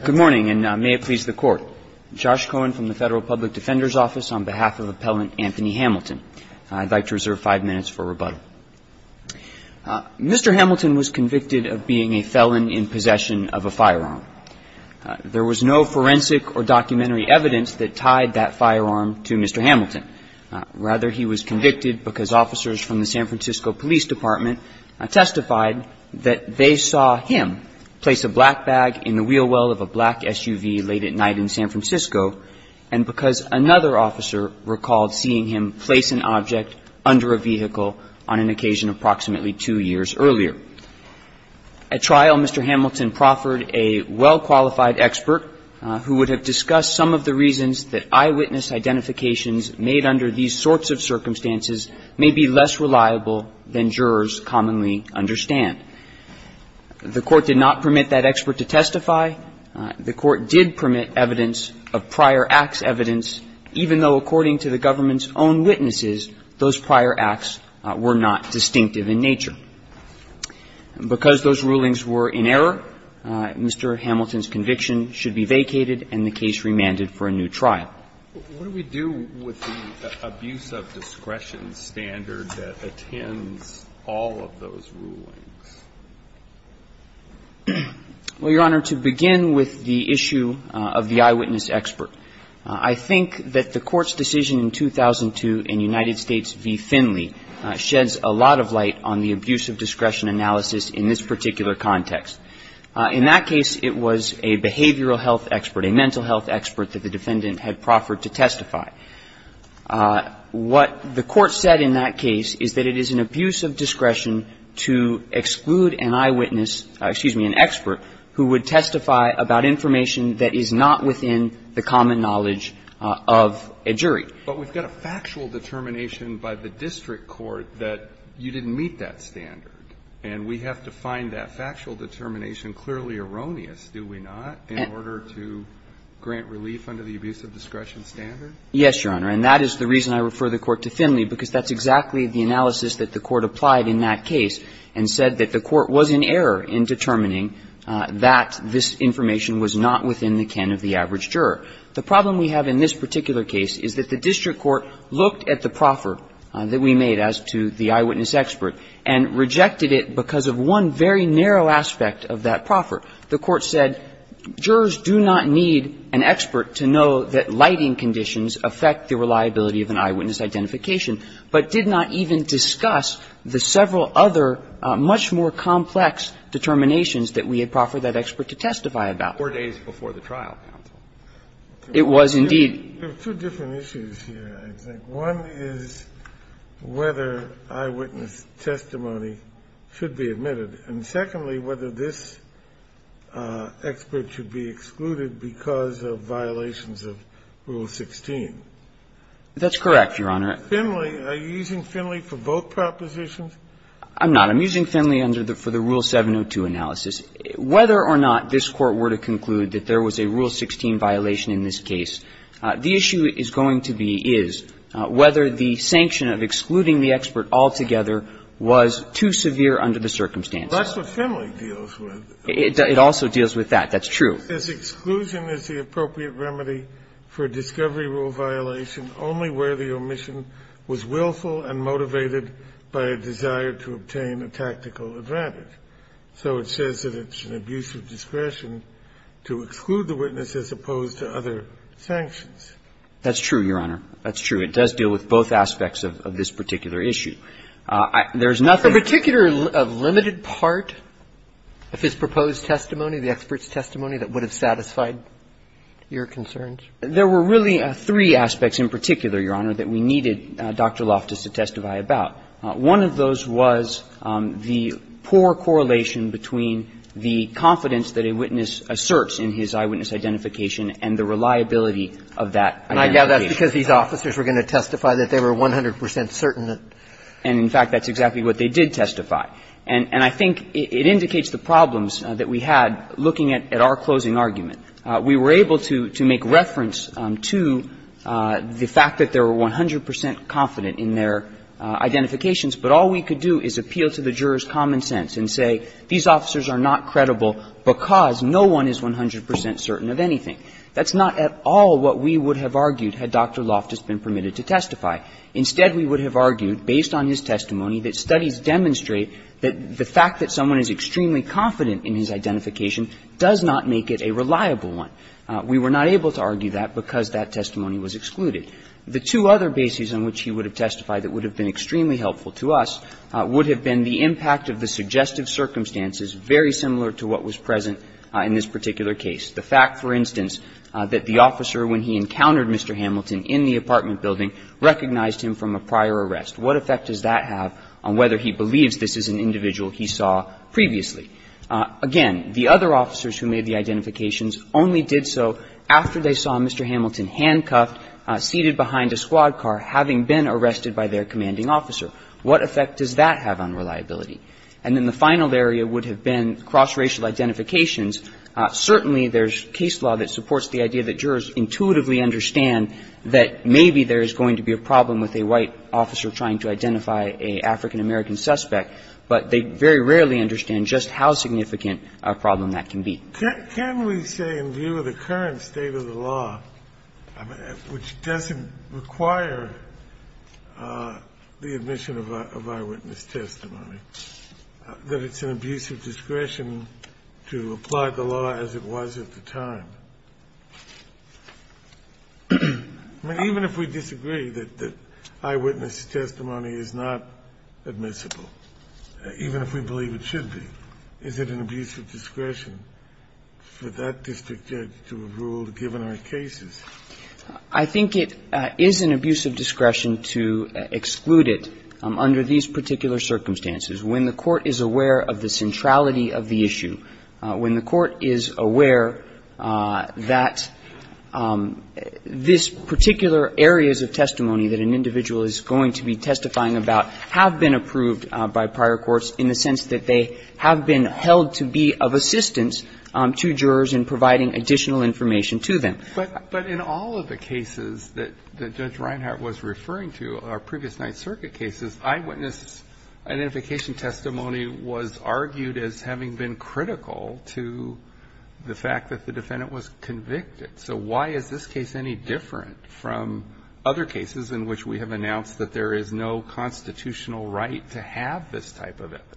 Good morning, and may it please the Court. Josh Cohen from the Federal Public Defender's Office on behalf of Appellant Anthony Hamilton. I'd like to reserve five minutes for rebuttal. Mr. Hamilton was convicted of being a felon in possession of a firearm. There was no forensic or documentary evidence that tied that firearm to Mr. Hamilton. Rather, he was convicted because officers from the San Francisco Police Department testified that they saw him place a black bag in the wheel well of a black SUV late at night in San Francisco, and because another officer recalled seeing him place an object under a vehicle on an occasion approximately two years earlier. At trial, Mr. Hamilton proffered a well-qualified expert who would discuss some of the reasons that eyewitness identifications made under these sorts of circumstances may be less reliable than jurors commonly understand. The Court did not permit that expert to testify. The Court did permit evidence of prior-acts evidence, even though, according to the government's own witnesses, those prior-acts were not distinctive in nature. Because those rulings were in error, Mr. Hamilton's case was vacated and the case remanded for a new trial. What do we do with the abuse of discretion standard that attends all of those rulings? Well, Your Honor, to begin with the issue of the eyewitness expert, I think that the Court's decision in 2002 in United States v. Finley sheds a lot of light on the abuse of discretion analysis in this particular context. In that case, it was a behavioral health expert, a mental health expert that the defendant had proffered to testify. What the Court said in that case is that it is an abuse of discretion to exclude an eyewitness – excuse me, an expert who would testify about information that is not within the common knowledge of a jury. But we've got a factual determination by the district court that you didn't meet that standard, and we have to find that factual determination clearly erroneous, do we not, in order to grant relief under the abuse of discretion standard? Yes, Your Honor. And that is the reason I refer the Court to Finley, because that's exactly the analysis that the Court applied in that case and said that the Court was in error in determining that this information was not within the ken of the average juror. The problem we have in this particular case is that the district court looked at the eyewitness expert and rejected it because of one very narrow aspect of that proffer. The Court said jurors do not need an expert to know that lighting conditions affect the reliability of an eyewitness identification, but did not even discuss the several other much more complex determinations that we had proffered that expert to testify about. It was, indeed. There are two different issues here, I think. One is whether eyewitness testimony should be admitted, and secondly, whether this expert should be excluded because of violations of Rule 16. That's correct, Your Honor. Finley – are you using Finley for both propositions? I'm not. I'm using Finley under the – for the Rule 702 analysis. Whether or not this Court were to conclude that there was a Rule 16 violation in this case, the issue is going to be is whether the sanction of excluding the expert altogether was too severe under the circumstances. Well, that's what Finley deals with. It also deals with that. That's true. This exclusion is the appropriate remedy for a discovery rule violation only where the omission was willful and motivated by a desire to obtain a tactical advantage. So it says that it's an abuse of discretion to exclude the witness as opposed to other sanctions. That's true, Your Honor. That's true. It does deal with both aspects of this particular issue. There's nothing – A particular limited part of his proposed testimony, the expert's testimony, that would have satisfied your concerns? There were really three aspects in particular, Your Honor, that we needed Dr. Loftus to testify about. One of those was the poor correlation between the confidence that a witness asserts in his eyewitness identification and the reliability of that identification. And I gather that's because these officers were going to testify that they were 100 percent certain that – And, in fact, that's exactly what they did testify. And I think it indicates the problems that we had looking at our closing argument. We were able to make reference to the fact that they were 100 percent confident in their identifications, but all we could do is appeal to the juror's common sense and say, these officers are not credible because no one is 100 percent certain of anything. That's not at all what we would have argued had Dr. Loftus been permitted to testify. Instead, we would have argued, based on his testimony, that studies demonstrate that the fact that someone is extremely confident in his identification does not make it a reliable one. We were not able to argue that because that testimony was excluded. The two other bases on which he would have testified that would have been extremely helpful to us would have been the impact of the suggestive circumstances very similar to what was present in this particular case. The fact, for instance, that the officer, when he encountered Mr. Hamilton in the apartment building, recognized him from a prior arrest. What effect does that have on whether he believes this is an individual he saw previously? Again, the other officers who made the identifications only did so after they saw Mr. Hamilton handcuffed, seated behind a squad car, having been arrested by their commanding officer. What effect does that have on reliability? And then the final area would have been cross-racial identifications. Certainly, there's case law that supports the idea that jurors intuitively understand that maybe there is going to be a problem with a white officer trying to identify an African-American suspect, but they very rarely understand just how significant a problem that can be. Can we say in view of the current state of the law, which doesn't require the admission of eyewitness testimony, that it's an abuse of discretion to apply the law as it was at the time? Even if we disagree that eyewitness testimony is not admissible, even if we believe it should be, is it an abuse of discretion for that district judge to rule, given our cases? I think it is an abuse of discretion to exclude it under these particular circumstances. When the Court is aware of the centrality of the issue, when the Court is aware that this particular areas of testimony that an individual is going to be testifying about have been approved by prior courts in the sense that they have been held to be of assistance to jurors in providing additional information to them. But in all of the cases that Judge Reinhart was referring to, our previous Ninth Circuit cases, eyewitness identification testimony was argued as having been critical to the fact that the defendant was convicted. So why is this case any different from other cases in which we have announced that there is no constitutional right to have this type of evidence?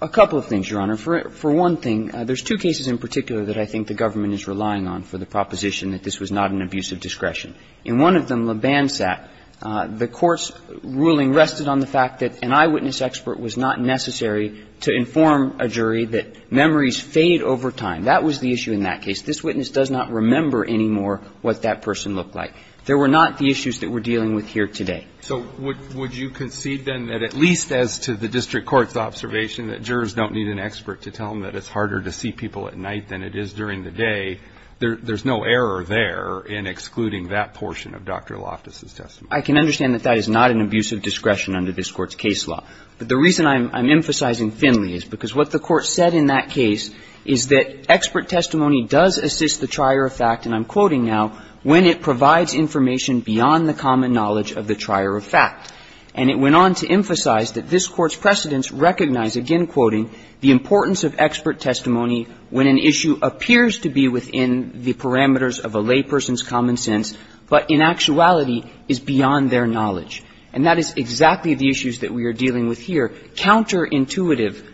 A couple of things, Your Honor. For one thing, there's two cases in particular that I think the government is relying on for the proposition that this was not an abuse of discretion. In one of them, Leban sat, the court's ruling rested on the fact that an eyewitness expert was not necessary to inform a jury that memories fade over time. That was the issue in that case. This witness does not remember anymore what that person looked like. There were not the issues that we're dealing with here today. So would you concede, then, that at least as to the district court's observation that jurors don't need an expert to tell them that it's harder to see people at night than it is during the day, there's no error there in excluding that portion of Dr. Loftus' testimony? I can understand that that is not an abuse of discretion under this court's case law. But the reason I'm emphasizing Finley is because what the court said in that case is that expert testimony does assist the trier of fact, and I'm quoting now, when it provides information beyond the common knowledge of the trier of fact. And it went on to emphasize that this Court's precedents recognize, again quoting, the importance of expert testimony when an issue appears to be within the parameters of a layperson's common sense, but in actuality is beyond their knowledge. And that is exactly the issues that we are dealing with here. Counterintuitive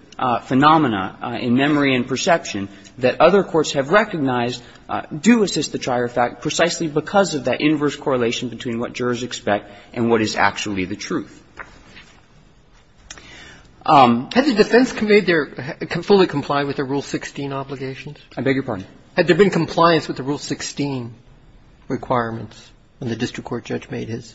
phenomena in memory and perception that other courts have recognized do assist the trier of fact precisely because of that inverse correlation between what jurors expect and what is actually the truth. Had the defense conveyed their – fully complied with the Rule 16 obligations? I beg your pardon? Had there been compliance with the Rule 16 requirements when the district court judge made his?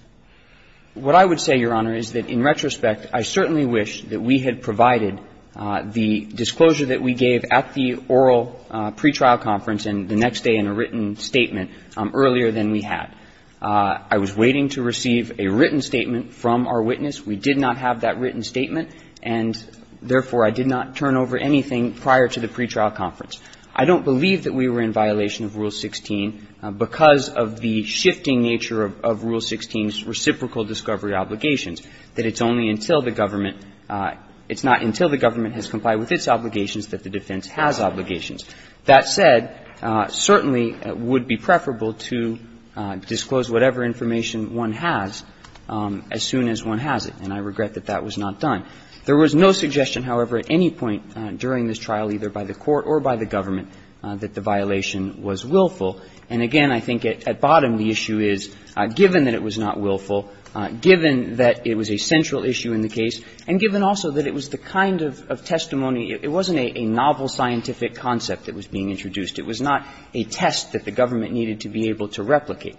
What I would say, Your Honor, is that in retrospect, I certainly wish that we had provided the disclosure that we gave at the oral pretrial conference and the next day in a written statement earlier than we had. I was waiting to receive a written statement from our witness. We did not have that written statement, and therefore, I did not turn over anything prior to the pretrial conference. I don't believe that we were in violation of Rule 16 because of the shifting nature of Rule 16's reciprocal discovery obligations, that it's only until the government – it's not until the government has complied with its obligations that the defense has obligations. That said, certainly it would be preferable to disclose whatever information one has as soon as one has it, and I regret that that was not done. There was no suggestion, however, at any point during this trial, either by the court or by the government, that the violation was willful. And again, I think at bottom, the issue is, given that it was not willful, given that it was a central issue in the case, and given also that it was the kind of testimony – it wasn't a novel scientific concept that was being introduced. It was not a test that the government needed to be able to replicate.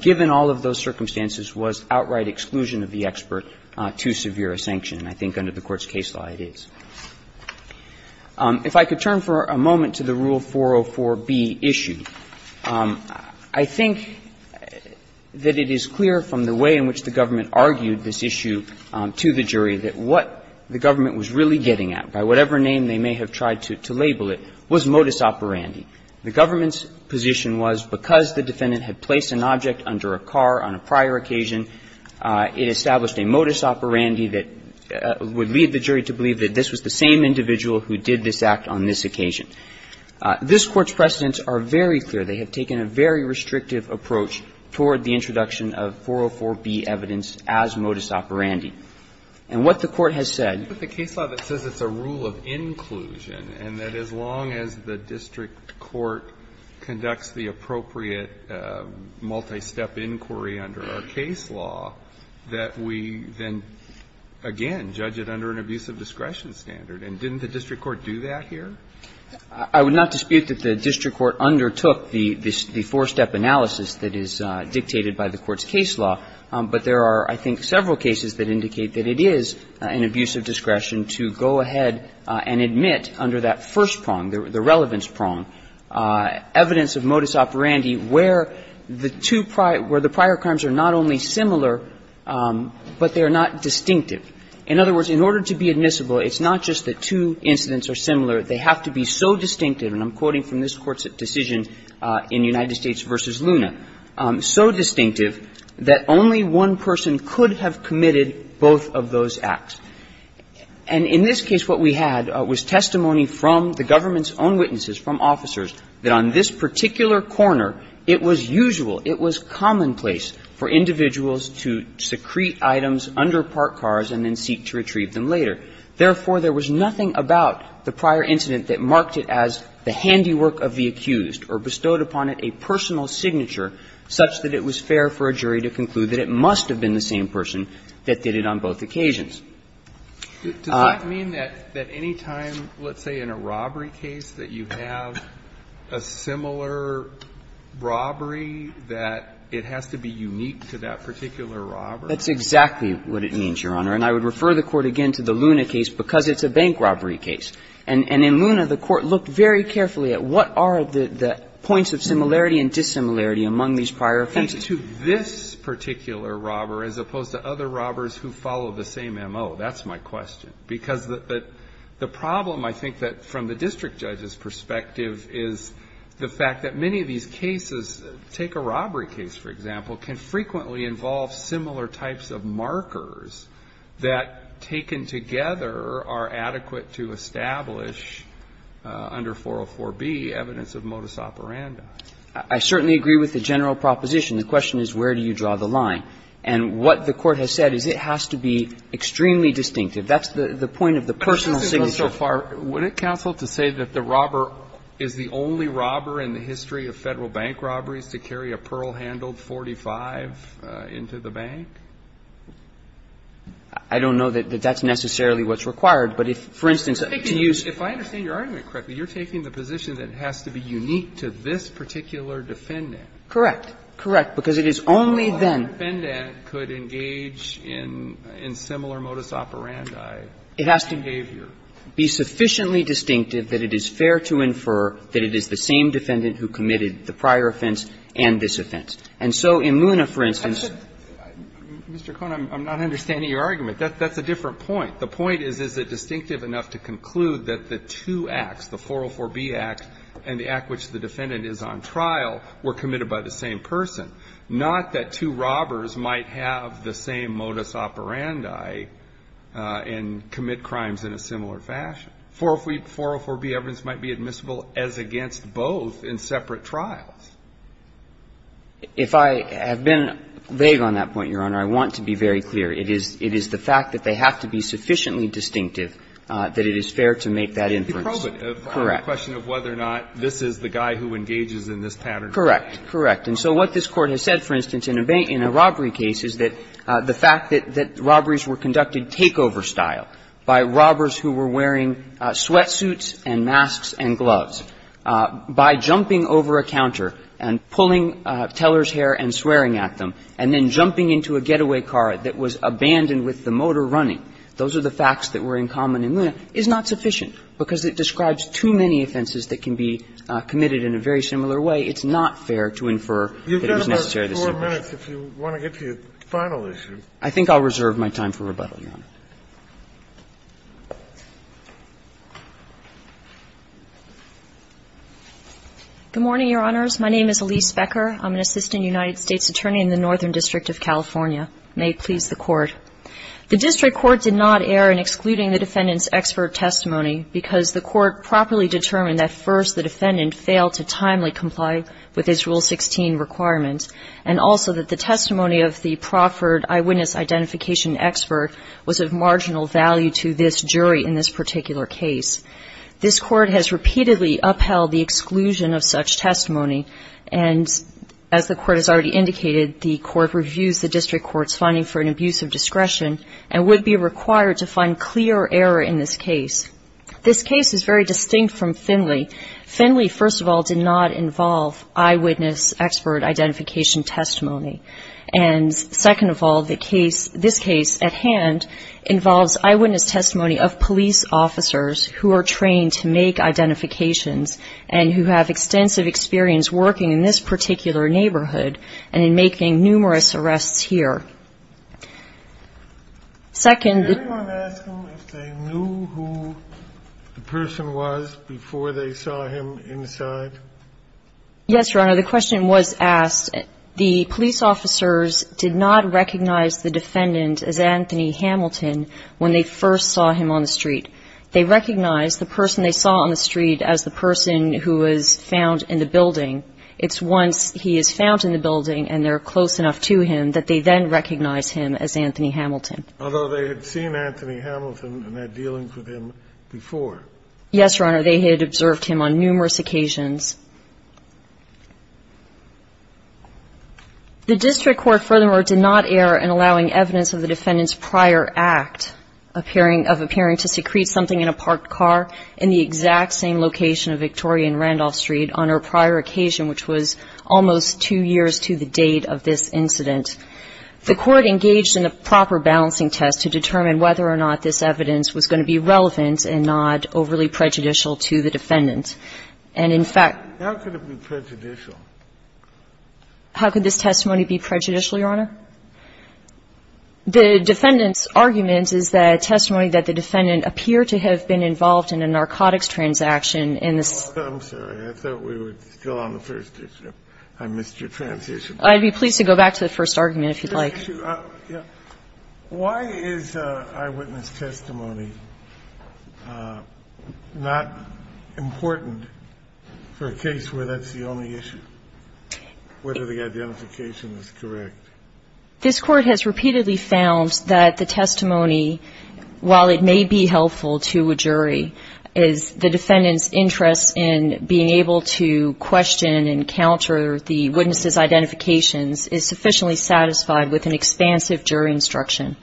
Given all of those circumstances, was outright exclusion of the expert too severe a sanction? And I think under the Court's case law, it is. If I could turn for a moment to the Rule 404b issue, I think that it is clear from the way in which the government argued this issue to the jury that what the government was really getting at, by whatever name they may have tried to label it, was modus operandi. The government's position was because the defendant had placed an object under a car on a prior occasion, it established a modus operandi that would lead the jury to believe that this was the same individual who did this act on this occasion. This Court's precedents are very clear. They have taken a very restrictive approach toward the introduction of 404b evidence as modus operandi. And what the Court has said – Breyer, with the case law that says it's a rule of inclusion, and that as long as the district court conducts the appropriate multi-step inquiry under our case law, that we then, again, judge it under an abuse of discretion standard. And didn't the district court do that here? I would not dispute that the district court undertook the four-step analysis that is dictated by the Court's case law. But there are, I think, several cases that indicate that it is an abuse of discretion to go ahead and admit under that first prong, the relevance prong, evidence of modus operandi where the two prior – where the prior crimes are not only similar but they are not distinctive. In other words, in order to be admissible, it's not just that two incidents are similar. They have to be so distinctive, and I'm quoting from this Court's decision in United States v. Luna, so distinctive that only one person could have committed both of those acts. And in this case, what we had was testimony from the government's own witnesses, from officers, that on this particular corner, it was usual, it was commonplace for individuals to secrete items under parked cars and then seek to retrieve them later. Therefore, there was nothing about the prior incident that marked it as the handiwork of the accused or bestowed upon it a personal signature such that it was fair for a jury to conclude that it must have been the same person that did it on both occasions. Alitoson Does that mean that any time, let's say, in a robbery case, that you have a similar robbery, that it has to be unique to that particular robber? That's exactly what it means, Your Honor. And I would refer the Court again to the Luna case, because it's a bank robbery case. And in Luna, the Court looked very carefully at what are the points of similarity and dissimilarity among these prior offenses. And to this particular robber as opposed to other robbers who follow the same M.O., that's my question. Because the problem, I think, from the district judge's perspective is the fact that many of these cases, take a robbery case, for example, can frequently involve similar types of markers that, taken together, are adequate to establish under 404B evidence of modus operandi. I certainly agree with the general proposition. The question is, where do you draw the line? And what the Court has said is it has to be extremely distinctive. That's the point of the personal signature. But this has gone so far, would it counsel to say that the robber is the only robber in the history of Federal bank robberies to carry a pearl-handled 45 into the bank? I don't know that that's necessarily what's required. But if, for instance, to use the ---- If I understand your argument correctly, you're taking the position that it has to be unique to this particular defendant. Correct. Correct. Because it is only then ---- It has to be sufficiently distinctive that it is fair to infer that it is the same defendant who committed the prior offense and this offense. And so in Luna, for instance ---- Mr. Cohen, I'm not understanding your argument. That's a different point. The point is, is it distinctive enough to conclude that the two acts, the 404B act and the act which the defendant is on trial, were committed by the same person, not that two robbers might have the same modus operandi and commit crimes in a similar fashion. 404B evidence might be admissible as against both in separate trials. If I have been vague on that point, Your Honor, I want to be very clear. It is the fact that they have to be sufficiently distinctive that it is fair to make that inference. Correct. It's a question of whether or not this is the guy who engages in this pattern of crime. Correct. Correct. And so what this Court has said, for instance, in a robbery case is that the fact that robberies were conducted takeover style by robbers who were wearing sweatsuits and masks and gloves, by jumping over a counter and pulling teller's hair and swearing at them, and then jumping into a getaway car that was abandoned with the motor running, those are the facts that were in common in Luna, is not sufficient because it describes too many offenses that can be committed in a very similar way. It's not fair to infer that it was necessary to distinguish. You've got about four minutes if you want to get to your final issue. I think I'll reserve my time for rebuttal, Your Honor. Good morning, Your Honors. My name is Elise Becker. I'm an assistant United States attorney in the Northern District of California. May it please the Court. The district court did not err in excluding the defendant's expert testimony because the court properly determined that first the defendant failed to timely comply with his Rule 16 requirements, and also that the testimony of the proffered eyewitness identification expert was of marginal value to this jury in this particular case. This Court has repeatedly upheld the exclusion of such testimony, and as the Court has already indicated, the Court reviews the district court's finding for an abusive discretion and would be required to find clear error in this case. This case is very distinct from Finley. Finley, first of all, did not involve eyewitness expert identification testimony. And second of all, this case at hand involves eyewitness testimony of police officers who are trained to make identifications and who have extensive experience working in this particular neighborhood and in making numerous arrests here. Second the ---- Did anyone ask them if they knew who the person was before they saw him inside? Yes, Your Honor. The question was asked. The police officers did not recognize the defendant as Anthony Hamilton when they first saw him on the street. They recognized the person they saw on the street as the person who was found in the building. It's once he is found in the building and they're close enough to him that they then recognize him as Anthony Hamilton. Although they had seen Anthony Hamilton and had dealings with him before. Yes, Your Honor. They had observed him on numerous occasions. The district court, furthermore, did not err in allowing evidence of the defendant's prior act of appearing to secrete something in a parked car in the exact same location of Victoria and Randolph Street on her prior occasion, which was almost two years to the date of this incident. The court engaged in a proper balancing test to determine whether or not this evidence was going to be relevant and not overly prejudicial to the defendant. And, in fact ---- How could it be prejudicial? How could this testimony be prejudicial, Your Honor? The defendant's argument is that testimony that the defendant appeared to have been I'm sorry. I thought we were still on the first issue. I missed your transition. I'd be pleased to go back to the first argument, if you'd like. Why is eyewitness testimony not important for a case where that's the only issue, whether the identification is correct? This Court has repeatedly found that the testimony, while it may be helpful to a jury, is the defendant's interest in being able to question and counter the witness's identifications is sufficiently satisfied with an expansive jury instruction.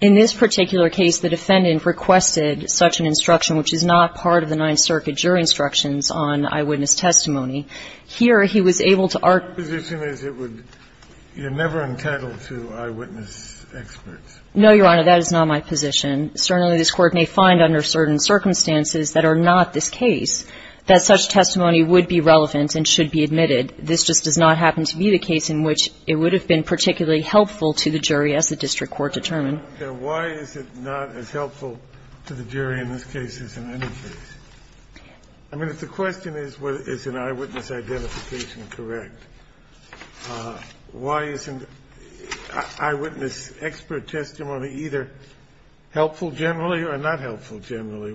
In this particular case, the defendant requested such an instruction, which is not part of the Ninth Circuit jury instructions on eyewitness testimony. Here, he was able to argue ---- Your position is it would ---- you're never entitled to eyewitness experts. No, Your Honor. That is not my position. Certainly, this Court may find under certain circumstances that are not this case that such testimony would be relevant and should be admitted. This just does not happen to be the case in which it would have been particularly helpful to the jury as the district court determined. Okay. Why is it not as helpful to the jury in this case as in any case? I mean, if the question is, is an eyewitness identification correct, why isn't eyewitness expert testimony either helpful generally or not helpful generally?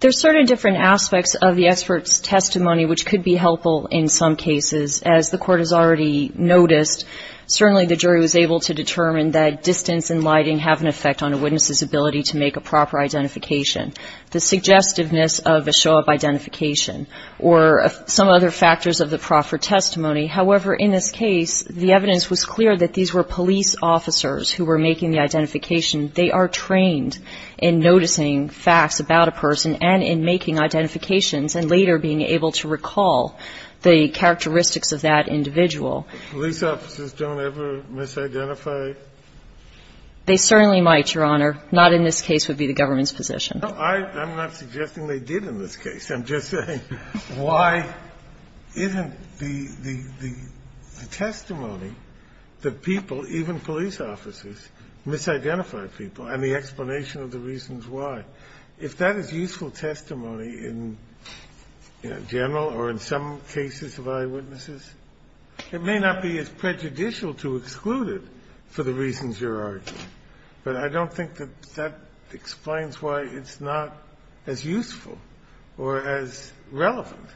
There are certain different aspects of the expert's testimony which could be helpful in some cases. As the Court has already noticed, certainly the jury was able to determine that distance and lighting have an effect on a witness's ability to make a proper identification. The suggestiveness of a show of identification or some other factors of the proper testimony. However, in this case, the evidence was clear that these were police officers who were making the identification. They are trained in noticing facts about a person and in making identifications and later being able to recall the characteristics of that individual. Police officers don't ever misidentify? They certainly might, Your Honor. Not in this case would be the government's position. I'm not suggesting they did in this case. I'm just saying why isn't the testimony that people, even police officers, misidentify people and the explanation of the reasons why, if that is useful testimony in general or in some cases of eyewitnesses, it may not be as prejudicial to exclude it for the reasons you're arguing. But I don't think that that explains why it's not as useful. Or as relevant.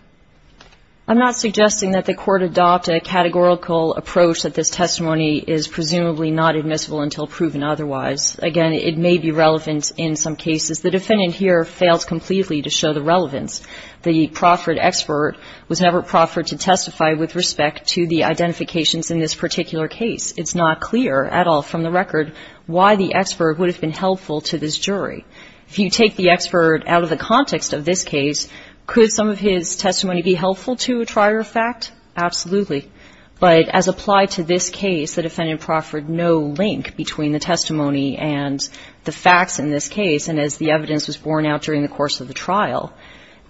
I'm not suggesting that the Court adopt a categorical approach that this testimony is presumably not admissible until proven otherwise. Again, it may be relevant in some cases. The defendant here fails completely to show the relevance. The proffered expert was never proffered to testify with respect to the identifications in this particular case. It's not clear at all from the record why the expert would have been helpful to this jury. If you take the expert out of the context of this case, could some of his testimony be helpful to a trier of fact? Absolutely. But as applied to this case, the defendant proffered no link between the testimony and the facts in this case. And as the evidence was borne out during the course of the trial,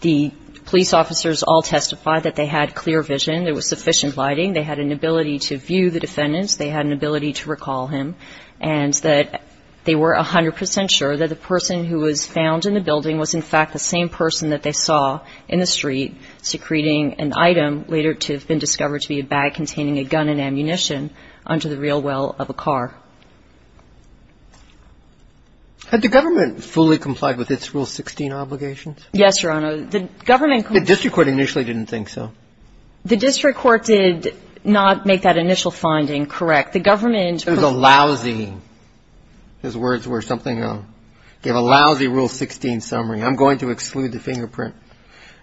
the police officers all testified that they had clear vision, there was sufficient lighting, they had an ability to view the defendant, they had an ability to recall him, and that they were 100 percent sure that the person who was found in the building was, in fact, the same person that they saw in the street secreting an item later to have been discovered to be a bag containing a gun and ammunition under the rear wheel of a car. Had the government fully complied with its Rule 16 obligations? Yes, Your Honor. The government complied. The district court initially didn't think so. The district court did not make that initial finding correct. The government preferred. It was a lousy. His words were something of a lousy Rule 16 summary. I'm going to exclude the fingerprint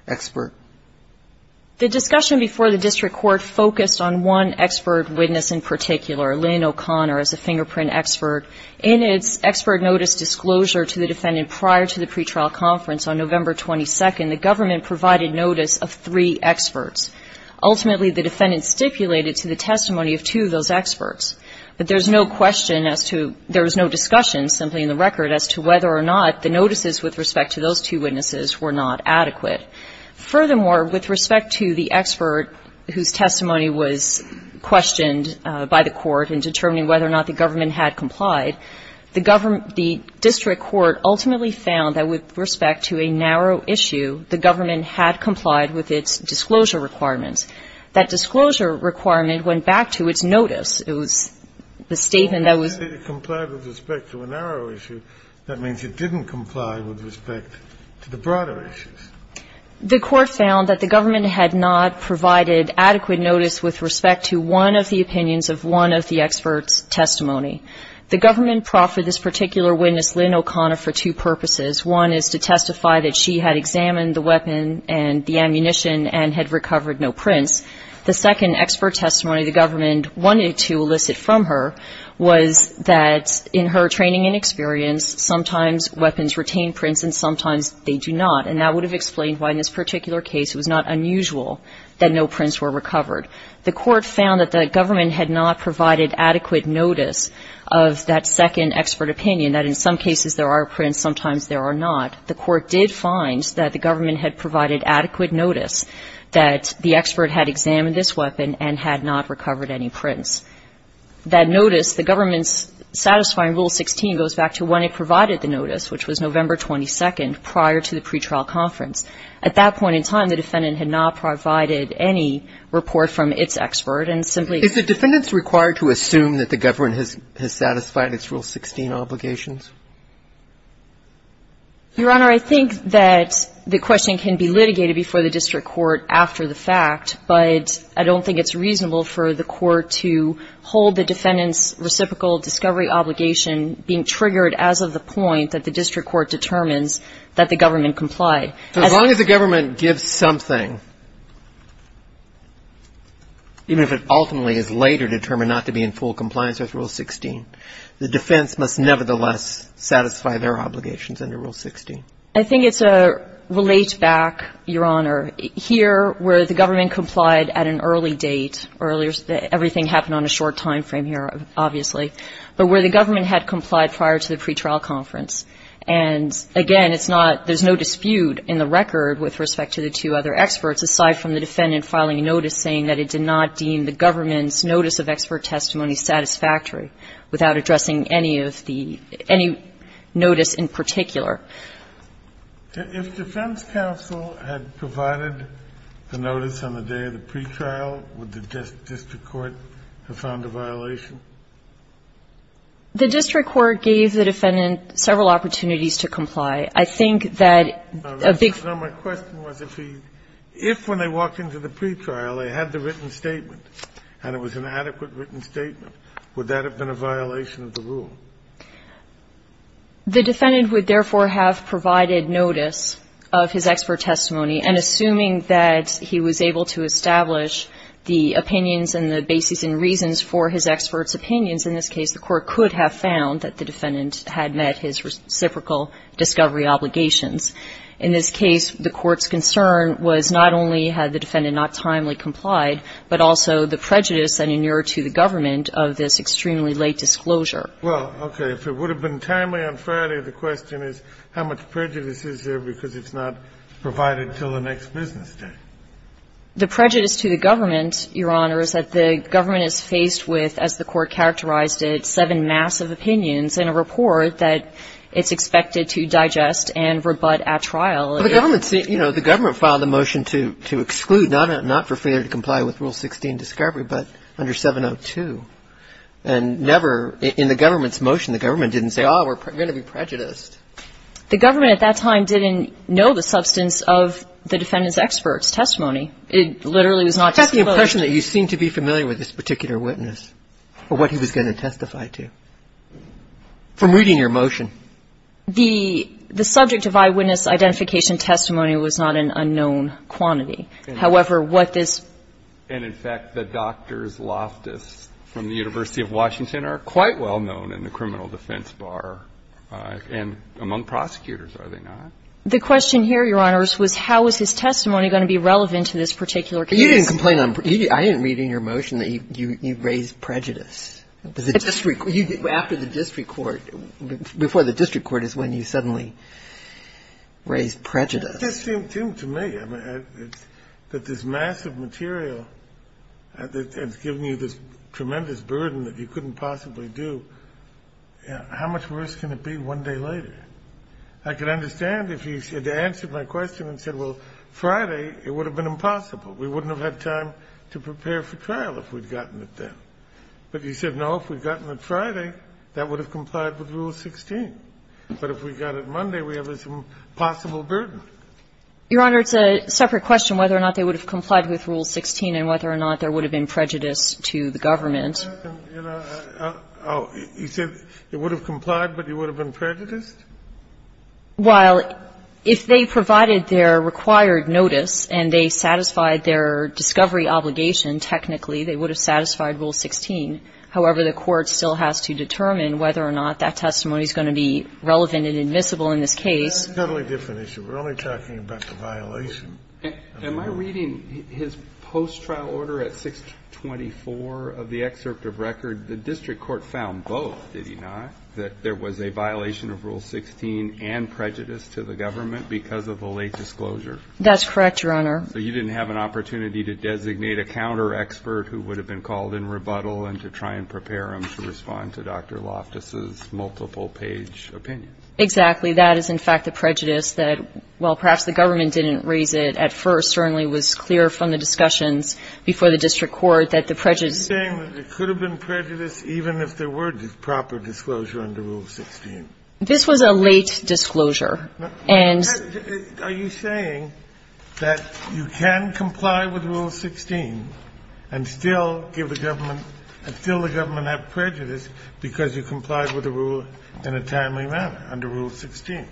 expert. The discussion before the district court focused on one expert witness in particular, Lynn O'Connor, as a fingerprint expert. In its expert notice disclosure to the defendant prior to the pretrial conference on November 22nd, the government provided notice of three experts. Ultimately, the defendant stipulated to the testimony of two of those experts. But there's no question as to – there was no discussion, simply in the record, as to whether or not the notices with respect to those two witnesses were not adequate. Furthermore, with respect to the expert whose testimony was questioned by the court in determining whether or not the government had complied, the district court ultimately found that with respect to a narrow issue, the government had complied with its disclosure requirements. That disclosure requirement went back to its notice. It was the statement that was – The court said it complied with respect to a narrow issue. That means it didn't comply with respect to the broader issues. The court found that the government had not provided adequate notice with respect to one of the opinions of one of the experts' testimony. The government proffered this particular witness, Lynn O'Connor, for two purposes. One is to testify that she had examined the weapon and the ammunition and had recovered no prints. The second expert testimony the government wanted to elicit from her was that in her training and experience, sometimes weapons retain prints and sometimes they do not. And that would have explained why in this particular case it was not unusual that no prints were recovered. The court found that the government had not provided adequate notice of that second expert opinion, that in some cases there are prints, sometimes there are not. The court did find that the government had provided adequate notice that the expert had examined this weapon and had not recovered any prints. That notice, the government's satisfying Rule 16 goes back to when it provided the notice, which was November 22nd, prior to the pretrial conference. At that point in time, the defendant had not provided any report from its expert and simply – Is the defendant required to assume that the government has satisfied its Rule 16 obligations? Your Honor, I think that the question can be litigated before the district court after the fact, but I don't think it's reasonable for the court to hold the defendant's reciprocal discovery obligation being triggered as of the point that the district court determines that the government complied. As long as the government gives something, even if it ultimately is later determined not to be in full compliance with Rule 16, the defense must nevertheless satisfy their obligations under Rule 16. I think it's a relate back, Your Honor. Here, where the government complied at an early date, everything happened on a short time frame here, obviously, but where the government had complied prior to the pretrial conference, and again, it's not – there's no dispute in the record with respect to the two other experts aside from the defendant filing a notice saying that it did not deem the government's notice of expert testimony satisfactory without addressing any of the – any notice in particular. If defense counsel had provided the notice on the day of the pretrial, would the district court have found a violation? The district court gave the defendant several opportunities to comply. I think that a big – No, my question was if he – if when they walked into the pretrial, they had the written statement, and it was an adequate written statement, would that have been a violation of the rule? The defendant would, therefore, have provided notice of his expert testimony, and assuming that he was able to establish the opinions and the basis and reasons for his expert's opinions, in this case, the court could have found that the defendant had met his reciprocal discovery obligations. In this case, the court's concern was not only had the defendant not timely complied, but also the prejudice that inured to the government of this extremely late disclosure. Well, okay. If it would have been timely on Friday, the question is how much prejudice is there because it's not provided until the next business day? The prejudice to the government, Your Honor, is that the government is faced with, as the court characterized it, seven massive opinions in a report that it's expected to digest and rebut at trial. Well, the government's – you know, the government filed a motion to exclude not for failure to comply with Rule 16, Discovery, but under 702. And never in the government's motion, the government didn't say, oh, we're going to be prejudiced. The government at that time didn't know the substance of the defendant's expert's testimony. It literally was not disclosed. I have the impression that you seem to be familiar with this particular witness or what he was going to testify to from reading your motion. The subject of eyewitness identification testimony was not an unknown quantity. However, what this – and, in fact, the Doctors Loftus from the University of Washington are quite well known in the criminal defense bar and among prosecutors, are they not? The question here, Your Honors, was how is his testimony going to be relevant to this particular case? You didn't complain on – I didn't read in your motion that you raised prejudice. It was the district – after the district court, before the district court is when you suddenly raised prejudice. It just seemed to me that this massive material has given you this tremendous burden that you couldn't possibly do. How much worse can it be one day later? I can understand if you had answered my question and said, well, Friday, it would have been impossible. We wouldn't have had time to prepare for trial if we'd gotten it then. But you said, no, if we'd gotten it Friday, that would have complied with Rule 16. But if we got it Monday, we have this impossible burden. Your Honor, it's a separate question whether or not they would have complied with Rule 16 and whether or not there would have been prejudice to the government. You said it would have complied, but you would have been prejudiced? Well, if they provided their required notice and they satisfied their discovery obligation, technically, they would have satisfied Rule 16. However, the court still has to determine whether or not that testimony is going to be relevant and admissible in this case. That's a totally different issue. We're only talking about the violation. Am I reading his post-trial order at 624 of the excerpt of record? The district court found both, did he not, that there was a violation of Rule 16 and prejudice to the government because of the late disclosure? That's correct, Your Honor. So you didn't have an opportunity to designate a counter-expert who would have been involved in rebuttal and to try and prepare him to respond to Dr. Loftus' multiple-page opinions? That is, in fact, the prejudice that, while perhaps the government didn't raise it at first, certainly was clear from the discussions before the district court that the prejudice was there. Are you saying that there could have been prejudice even if there were proper disclosure under Rule 16? This was a late disclosure. And you're saying that you can comply with Rule 16 and still give the government and still the government have prejudice because you complied with the rule in a timely manner under Rule 16?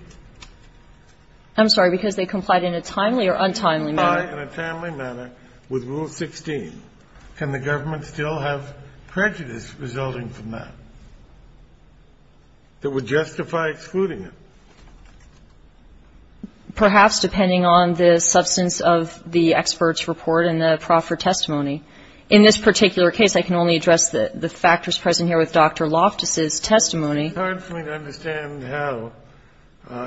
I'm sorry, because they complied in a timely or untimely manner. If you comply in a timely manner with Rule 16, can the government still have prejudice resulting from that that would justify excluding it? Perhaps, depending on the substance of the expert's report and the proffer testimony. In this particular case, I can only address the factors present here with Dr. Loftus' testimony. It's hard for me to understand how,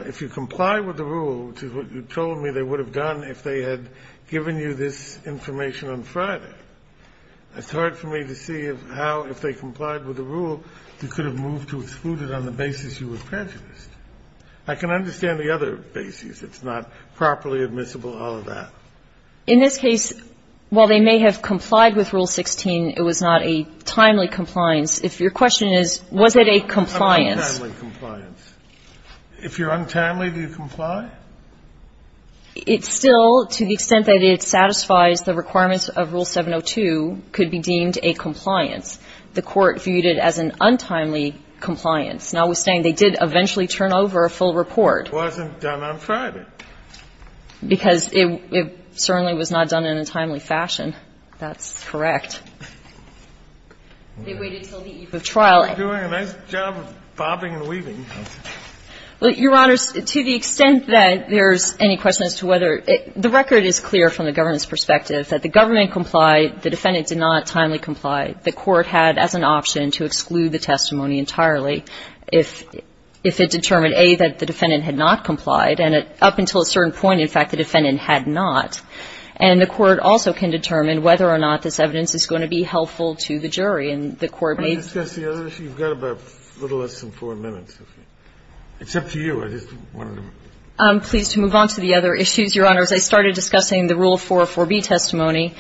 if you comply with the rule, which is what you told me they would have done if they had given you this information on Friday, it's hard for me to see how, if they complied with the rule, you could have moved to exclude it on the basis you were prejudiced. I can understand the other basis. It's not properly admissible, all of that. In this case, while they may have complied with Rule 16, it was not a timely compliance. If your question is, was it a compliance? Untimely compliance. If you're untimely, do you comply? It's still, to the extent that it satisfies the requirements of Rule 702, could be deemed a compliance. The Court viewed it as an untimely compliance. Notwithstanding, they did eventually turn over a full report. It wasn't done on Friday. Because it certainly was not done in a timely fashion. That's correct. They waited until the eve of trial. They're doing a nice job of bobbing and weaving. Your Honors, to the extent that there's any question as to whether the record is clear from the government's perspective that the government complied, the defendant did not timely comply. The Court had as an option to exclude the testimony entirely if it determined, A, that the defendant had not complied, and up until a certain point, in fact, the defendant had not. And the Court also can determine whether or not this evidence is going to be helpful to the jury. And the Court may be able to do that. You've got about a little less than four minutes. It's up to you. I'm pleased to move on to the other issues, Your Honors. I started discussing the Rule 404b testimony.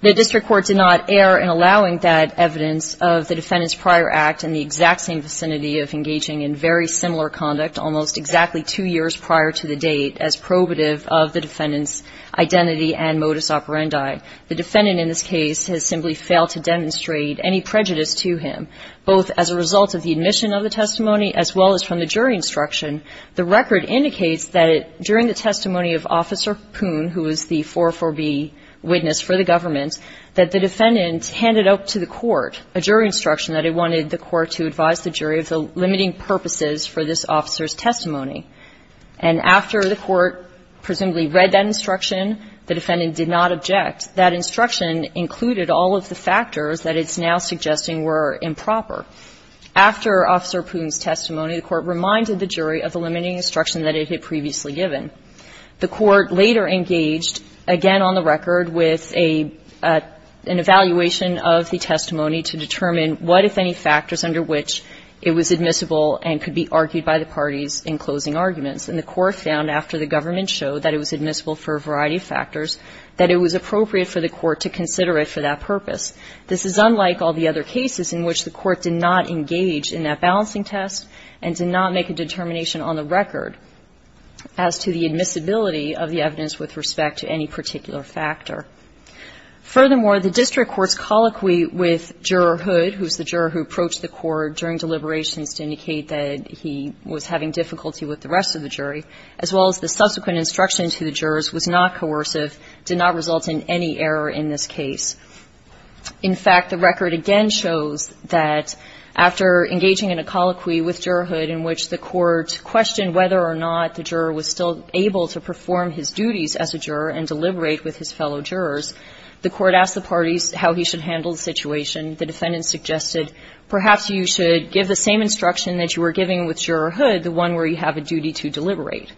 The district court did not err in allowing that evidence of the defendant's prior act in the exact same vicinity of engaging in very similar conduct almost exactly two years prior to the date as probative of the defendant's identity and modus operandi. The defendant in this case has simply failed to demonstrate any prejudice to him, both as a result of the admission of the testimony as well as from the jury instruction. The record indicates that during the testimony of Officer Poon, who was the 404b witness for the government, that the defendant handed out to the court a jury instruction that it wanted the court to advise the jury of the limiting purposes for this officer's testimony. And after the court presumably read that instruction, the defendant did not object. That instruction included all of the factors that it's now suggesting were improper. After Officer Poon's testimony, the Court reminded the jury of the limiting instruction that it had previously given. The Court later engaged, again on the record, with a an evaluation of the testimony to determine what, if any, factors under which it was admissible and could be argued by the parties in closing arguments. And the Court found, after the government showed that it was admissible for a variety of factors, that it was appropriate for the Court to consider it for that purpose. This is unlike all the other cases in which the Court did not engage in that balancing test and did not make a determination on the record. As to the admissibility of the evidence with respect to any particular factor. Furthermore, the district court's colloquy with Juror Hood, who's the juror who approached the court during deliberations to indicate that he was having difficulty with the rest of the jury, as well as the subsequent instruction to the jurors was not coercive, did not result in any error in this case. In fact, the record again shows that after engaging in a colloquy with Juror Hood in which the Court questioned whether or not the juror was still able to perform his duties as a juror and deliberate with his fellow jurors, the Court asked the parties how he should handle the situation. The defendant suggested, perhaps you should give the same instruction that you were giving with Juror Hood, the one where you have a duty to deliberate.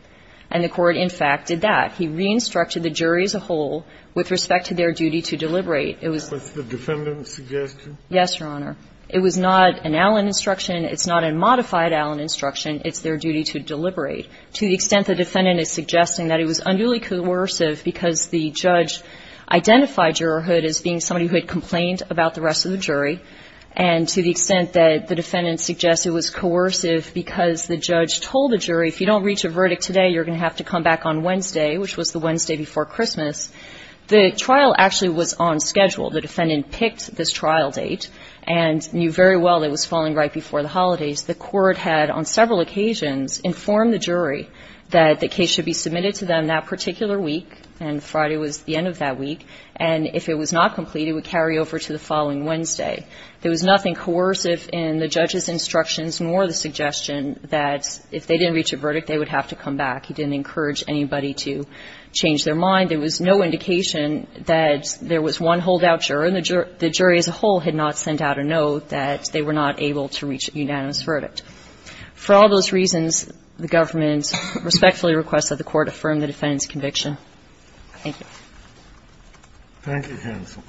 And the Court, in fact, did that. He re-instructed the jury as a whole with respect to their duty to deliberate. It was the defendant's suggestion? Yes, Your Honor. It was not an Allen instruction. It's not a modified Allen instruction. It's their duty to deliberate. To the extent the defendant is suggesting that it was unduly coercive because the judge identified Juror Hood as being somebody who had complained about the rest of the jury, and to the extent that the defendant suggests it was coercive because the judge told the jury, if you don't reach a verdict today, you're going to have to come back on Wednesday, which was the Wednesday before Christmas, the trial actually was on schedule. The defendant picked this trial date and knew very well it was falling right before the holidays. The Court had, on several occasions, informed the jury that the case should be submitted to them that particular week, and Friday was the end of that week, and if it was not complete, it would carry over to the following Wednesday. There was nothing coercive in the judge's instructions nor the suggestion that if they didn't reach a verdict, they would have to come back. He didn't encourage anybody to change their mind. There was no indication that there was one holdout juror, and the jury as a whole had not sent out a note that they were not able to reach a unanimous verdict. For all those reasons, the government respectfully requests that the Court affirm the defendant's conviction. Thank you. Thank you, counsel.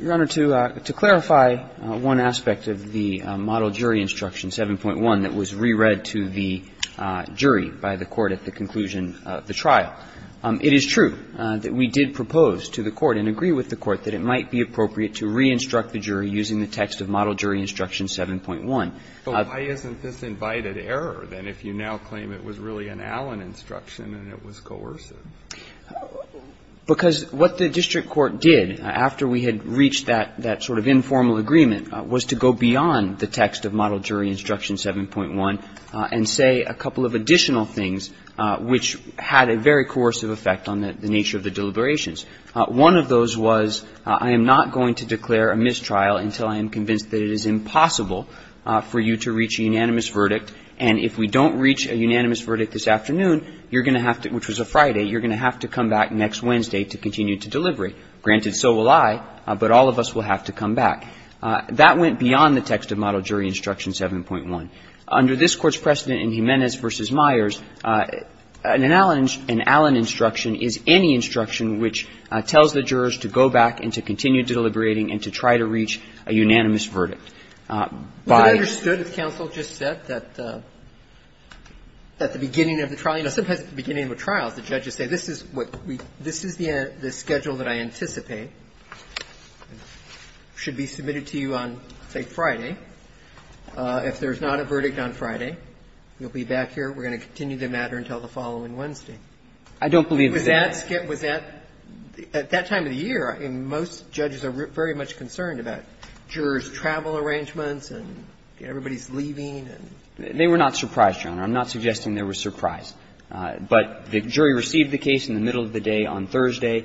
Your Honor, to clarify one aspect of the model jury instruction 7.1 that was re-read to the jury by the Court at the conclusion of the trial, it is true that we did propose to the Court and agree with the Court that it might be appropriate to re-instruct the jury using the text of model jury instruction 7.1. But why isn't this invited error, then, if you now claim it was really an Allen instruction and it was coercive? Because what the district court did, after we had reached that sort of informal agreement, was to go beyond the text of model jury instruction 7.1 and say a couple of additional things which had a very coercive effect on the nature of the deliberations. One of those was, I am not going to declare a mistrial until I am convinced that it is impossible for you to reach a unanimous verdict, and if we don't reach a unanimous verdict this afternoon, you're going to have to, which was a Friday, you're going to have to come back next Wednesday to continue to delivery. Granted, so will I, but all of us will have to come back. That went beyond the text of model jury instruction 7.1. Under this Court's precedent in Jimenez v. Myers, an Allen instruction is any instruction which tells the jurors to go back and to continue deliberating and to try to reach a unanimous verdict. Roberts. Was it understood, as counsel just said, that at the beginning of the trial, you know, sometimes at the beginning of a trial, the judges say, this is what we, this is the schedule that I anticipate should be submitted to you on, say, Friday. If there's not a verdict on Friday, you'll be back here, we're going to continue the matter until the following Wednesday. I don't believe that. Was that, at that time of the year, I mean, most judges are very much concerned about jurors' travel arrangements and everybody's leaving and. They were not surprised, Your Honor. I'm not suggesting they were surprised. But the jury received the case in the middle of the day on Thursday.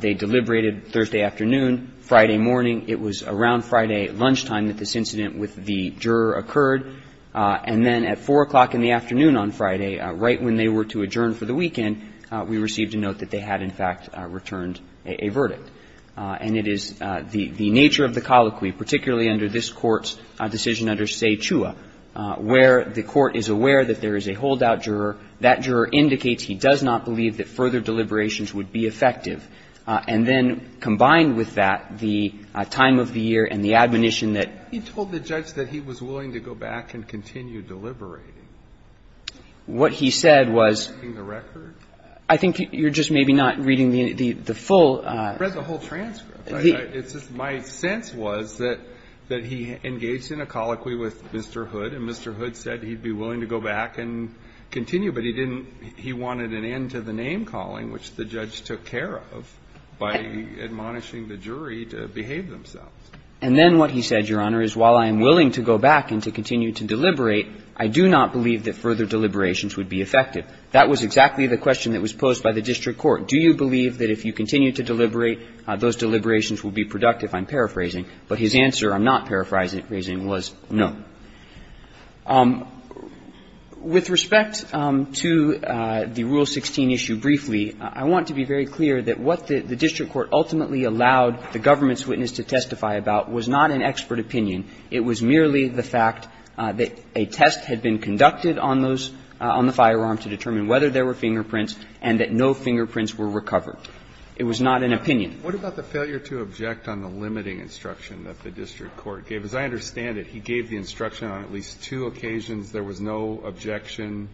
They deliberated Thursday afternoon. Friday morning, it was around Friday lunchtime that this incident with the juror occurred. And then at 4 o'clock in the afternoon on Friday, right when they were to adjourn for the weekend, we received a note that they had, in fact, returned a verdict. And it is the nature of the colloquy, particularly under this Court's decision under Se Chua, where the Court is aware that there is a holdout juror, that juror indicates he does not believe that further deliberations would be effective. And then combined with that, the time of the year and the admonition that he told the judge that he was willing to go back and continue deliberating, what he said was, I think you're just maybe not reading the full. It's just my sense was that he engaged in a colloquy with Mr. Hood, and Mr. Hood said he'd be willing to go back and continue, but he didn't he wanted an end to the name-calling, which the judge took care of by admonishing the jury to behave themselves. And then what he said, Your Honor, is while I am willing to go back and to continue to deliberate, I do not believe that further deliberations would be effective. That was exactly the question that was posed by the district court. Do you believe that if you continue to deliberate, those deliberations will be productive? I'm paraphrasing. But his answer, I'm not paraphrasing, was no. With respect to the Rule 16 issue briefly, I want to be very clear that what the district court ultimately allowed the government's witness to testify about was not an expert opinion. It was merely the fact that a test had been conducted on those – on the firearm to determine whether there were fingerprints and that no fingerprints were recovered. It was not an opinion. What about the failure to object on the limiting instruction that the district court gave? As I understand it, he gave the instruction on at least two occasions. There was no objection,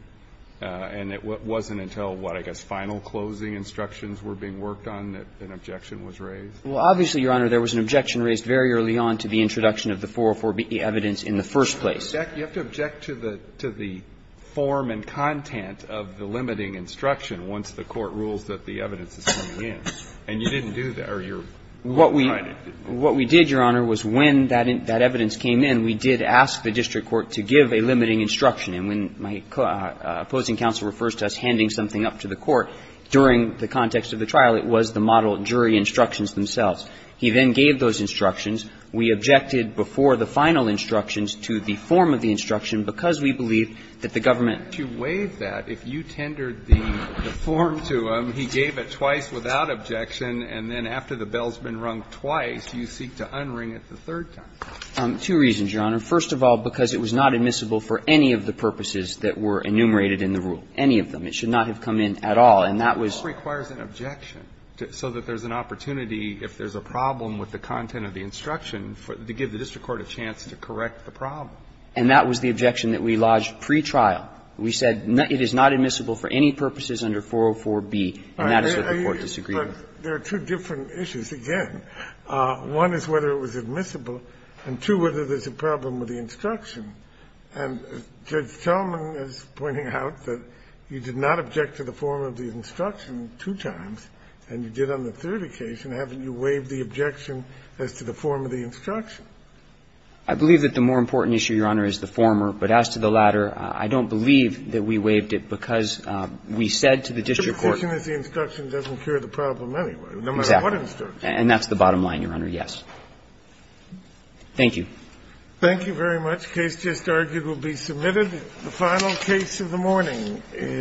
and it wasn't until, what, I guess final closing instructions were being worked on that an objection was raised? Well, obviously, Your Honor, there was an objection raised very early on to the introduction of the 404B evidence in the first place. You have to object to the form and content of the limiting instruction once the court rules that the evidence is coming in, and you didn't do that, or you're behind it. What we did, Your Honor, was when that evidence came in, we did ask the district court to give a limiting instruction. And when my opposing counsel refers to us handing something up to the court, during the context of the trial, it was the model jury instructions themselves. He then gave those instructions. We objected before the final instructions to the form of the instruction because we believe that the government to waive that. If you tendered the form to him, he gave it twice without objection, and then after the bell's been rung twice, you seek to unring it the third time. Two reasons, Your Honor. First of all, because it was not admissible for any of the purposes that were enumerated in the rule, any of them. It should not have come in at all, and that was. But that requires an objection, so that there's an opportunity, if there's a problem with the content of the instruction, to give the district court a chance to correct the problem. And that was the objection that we lodged pretrial. We said it is not admissible for any purposes under 404B, and that is what the court disagreed with. There are two different issues, again. One is whether it was admissible, and two, whether there's a problem with the instruction. And Judge Tillman is pointing out that you did not object to the form of the instruction two times, and you did on the third occasion. Haven't you waived the objection as to the form of the instruction? I believe that the more important issue, Your Honor, is the former. But as to the latter, I don't believe that we waived it, because we said to the district court that the instruction doesn't cure the problem anyway, no matter what instruction. And that's the bottom line, Your Honor, yes. Thank you. Thank you very much. The case just argued will be submitted. The final case of the morning is.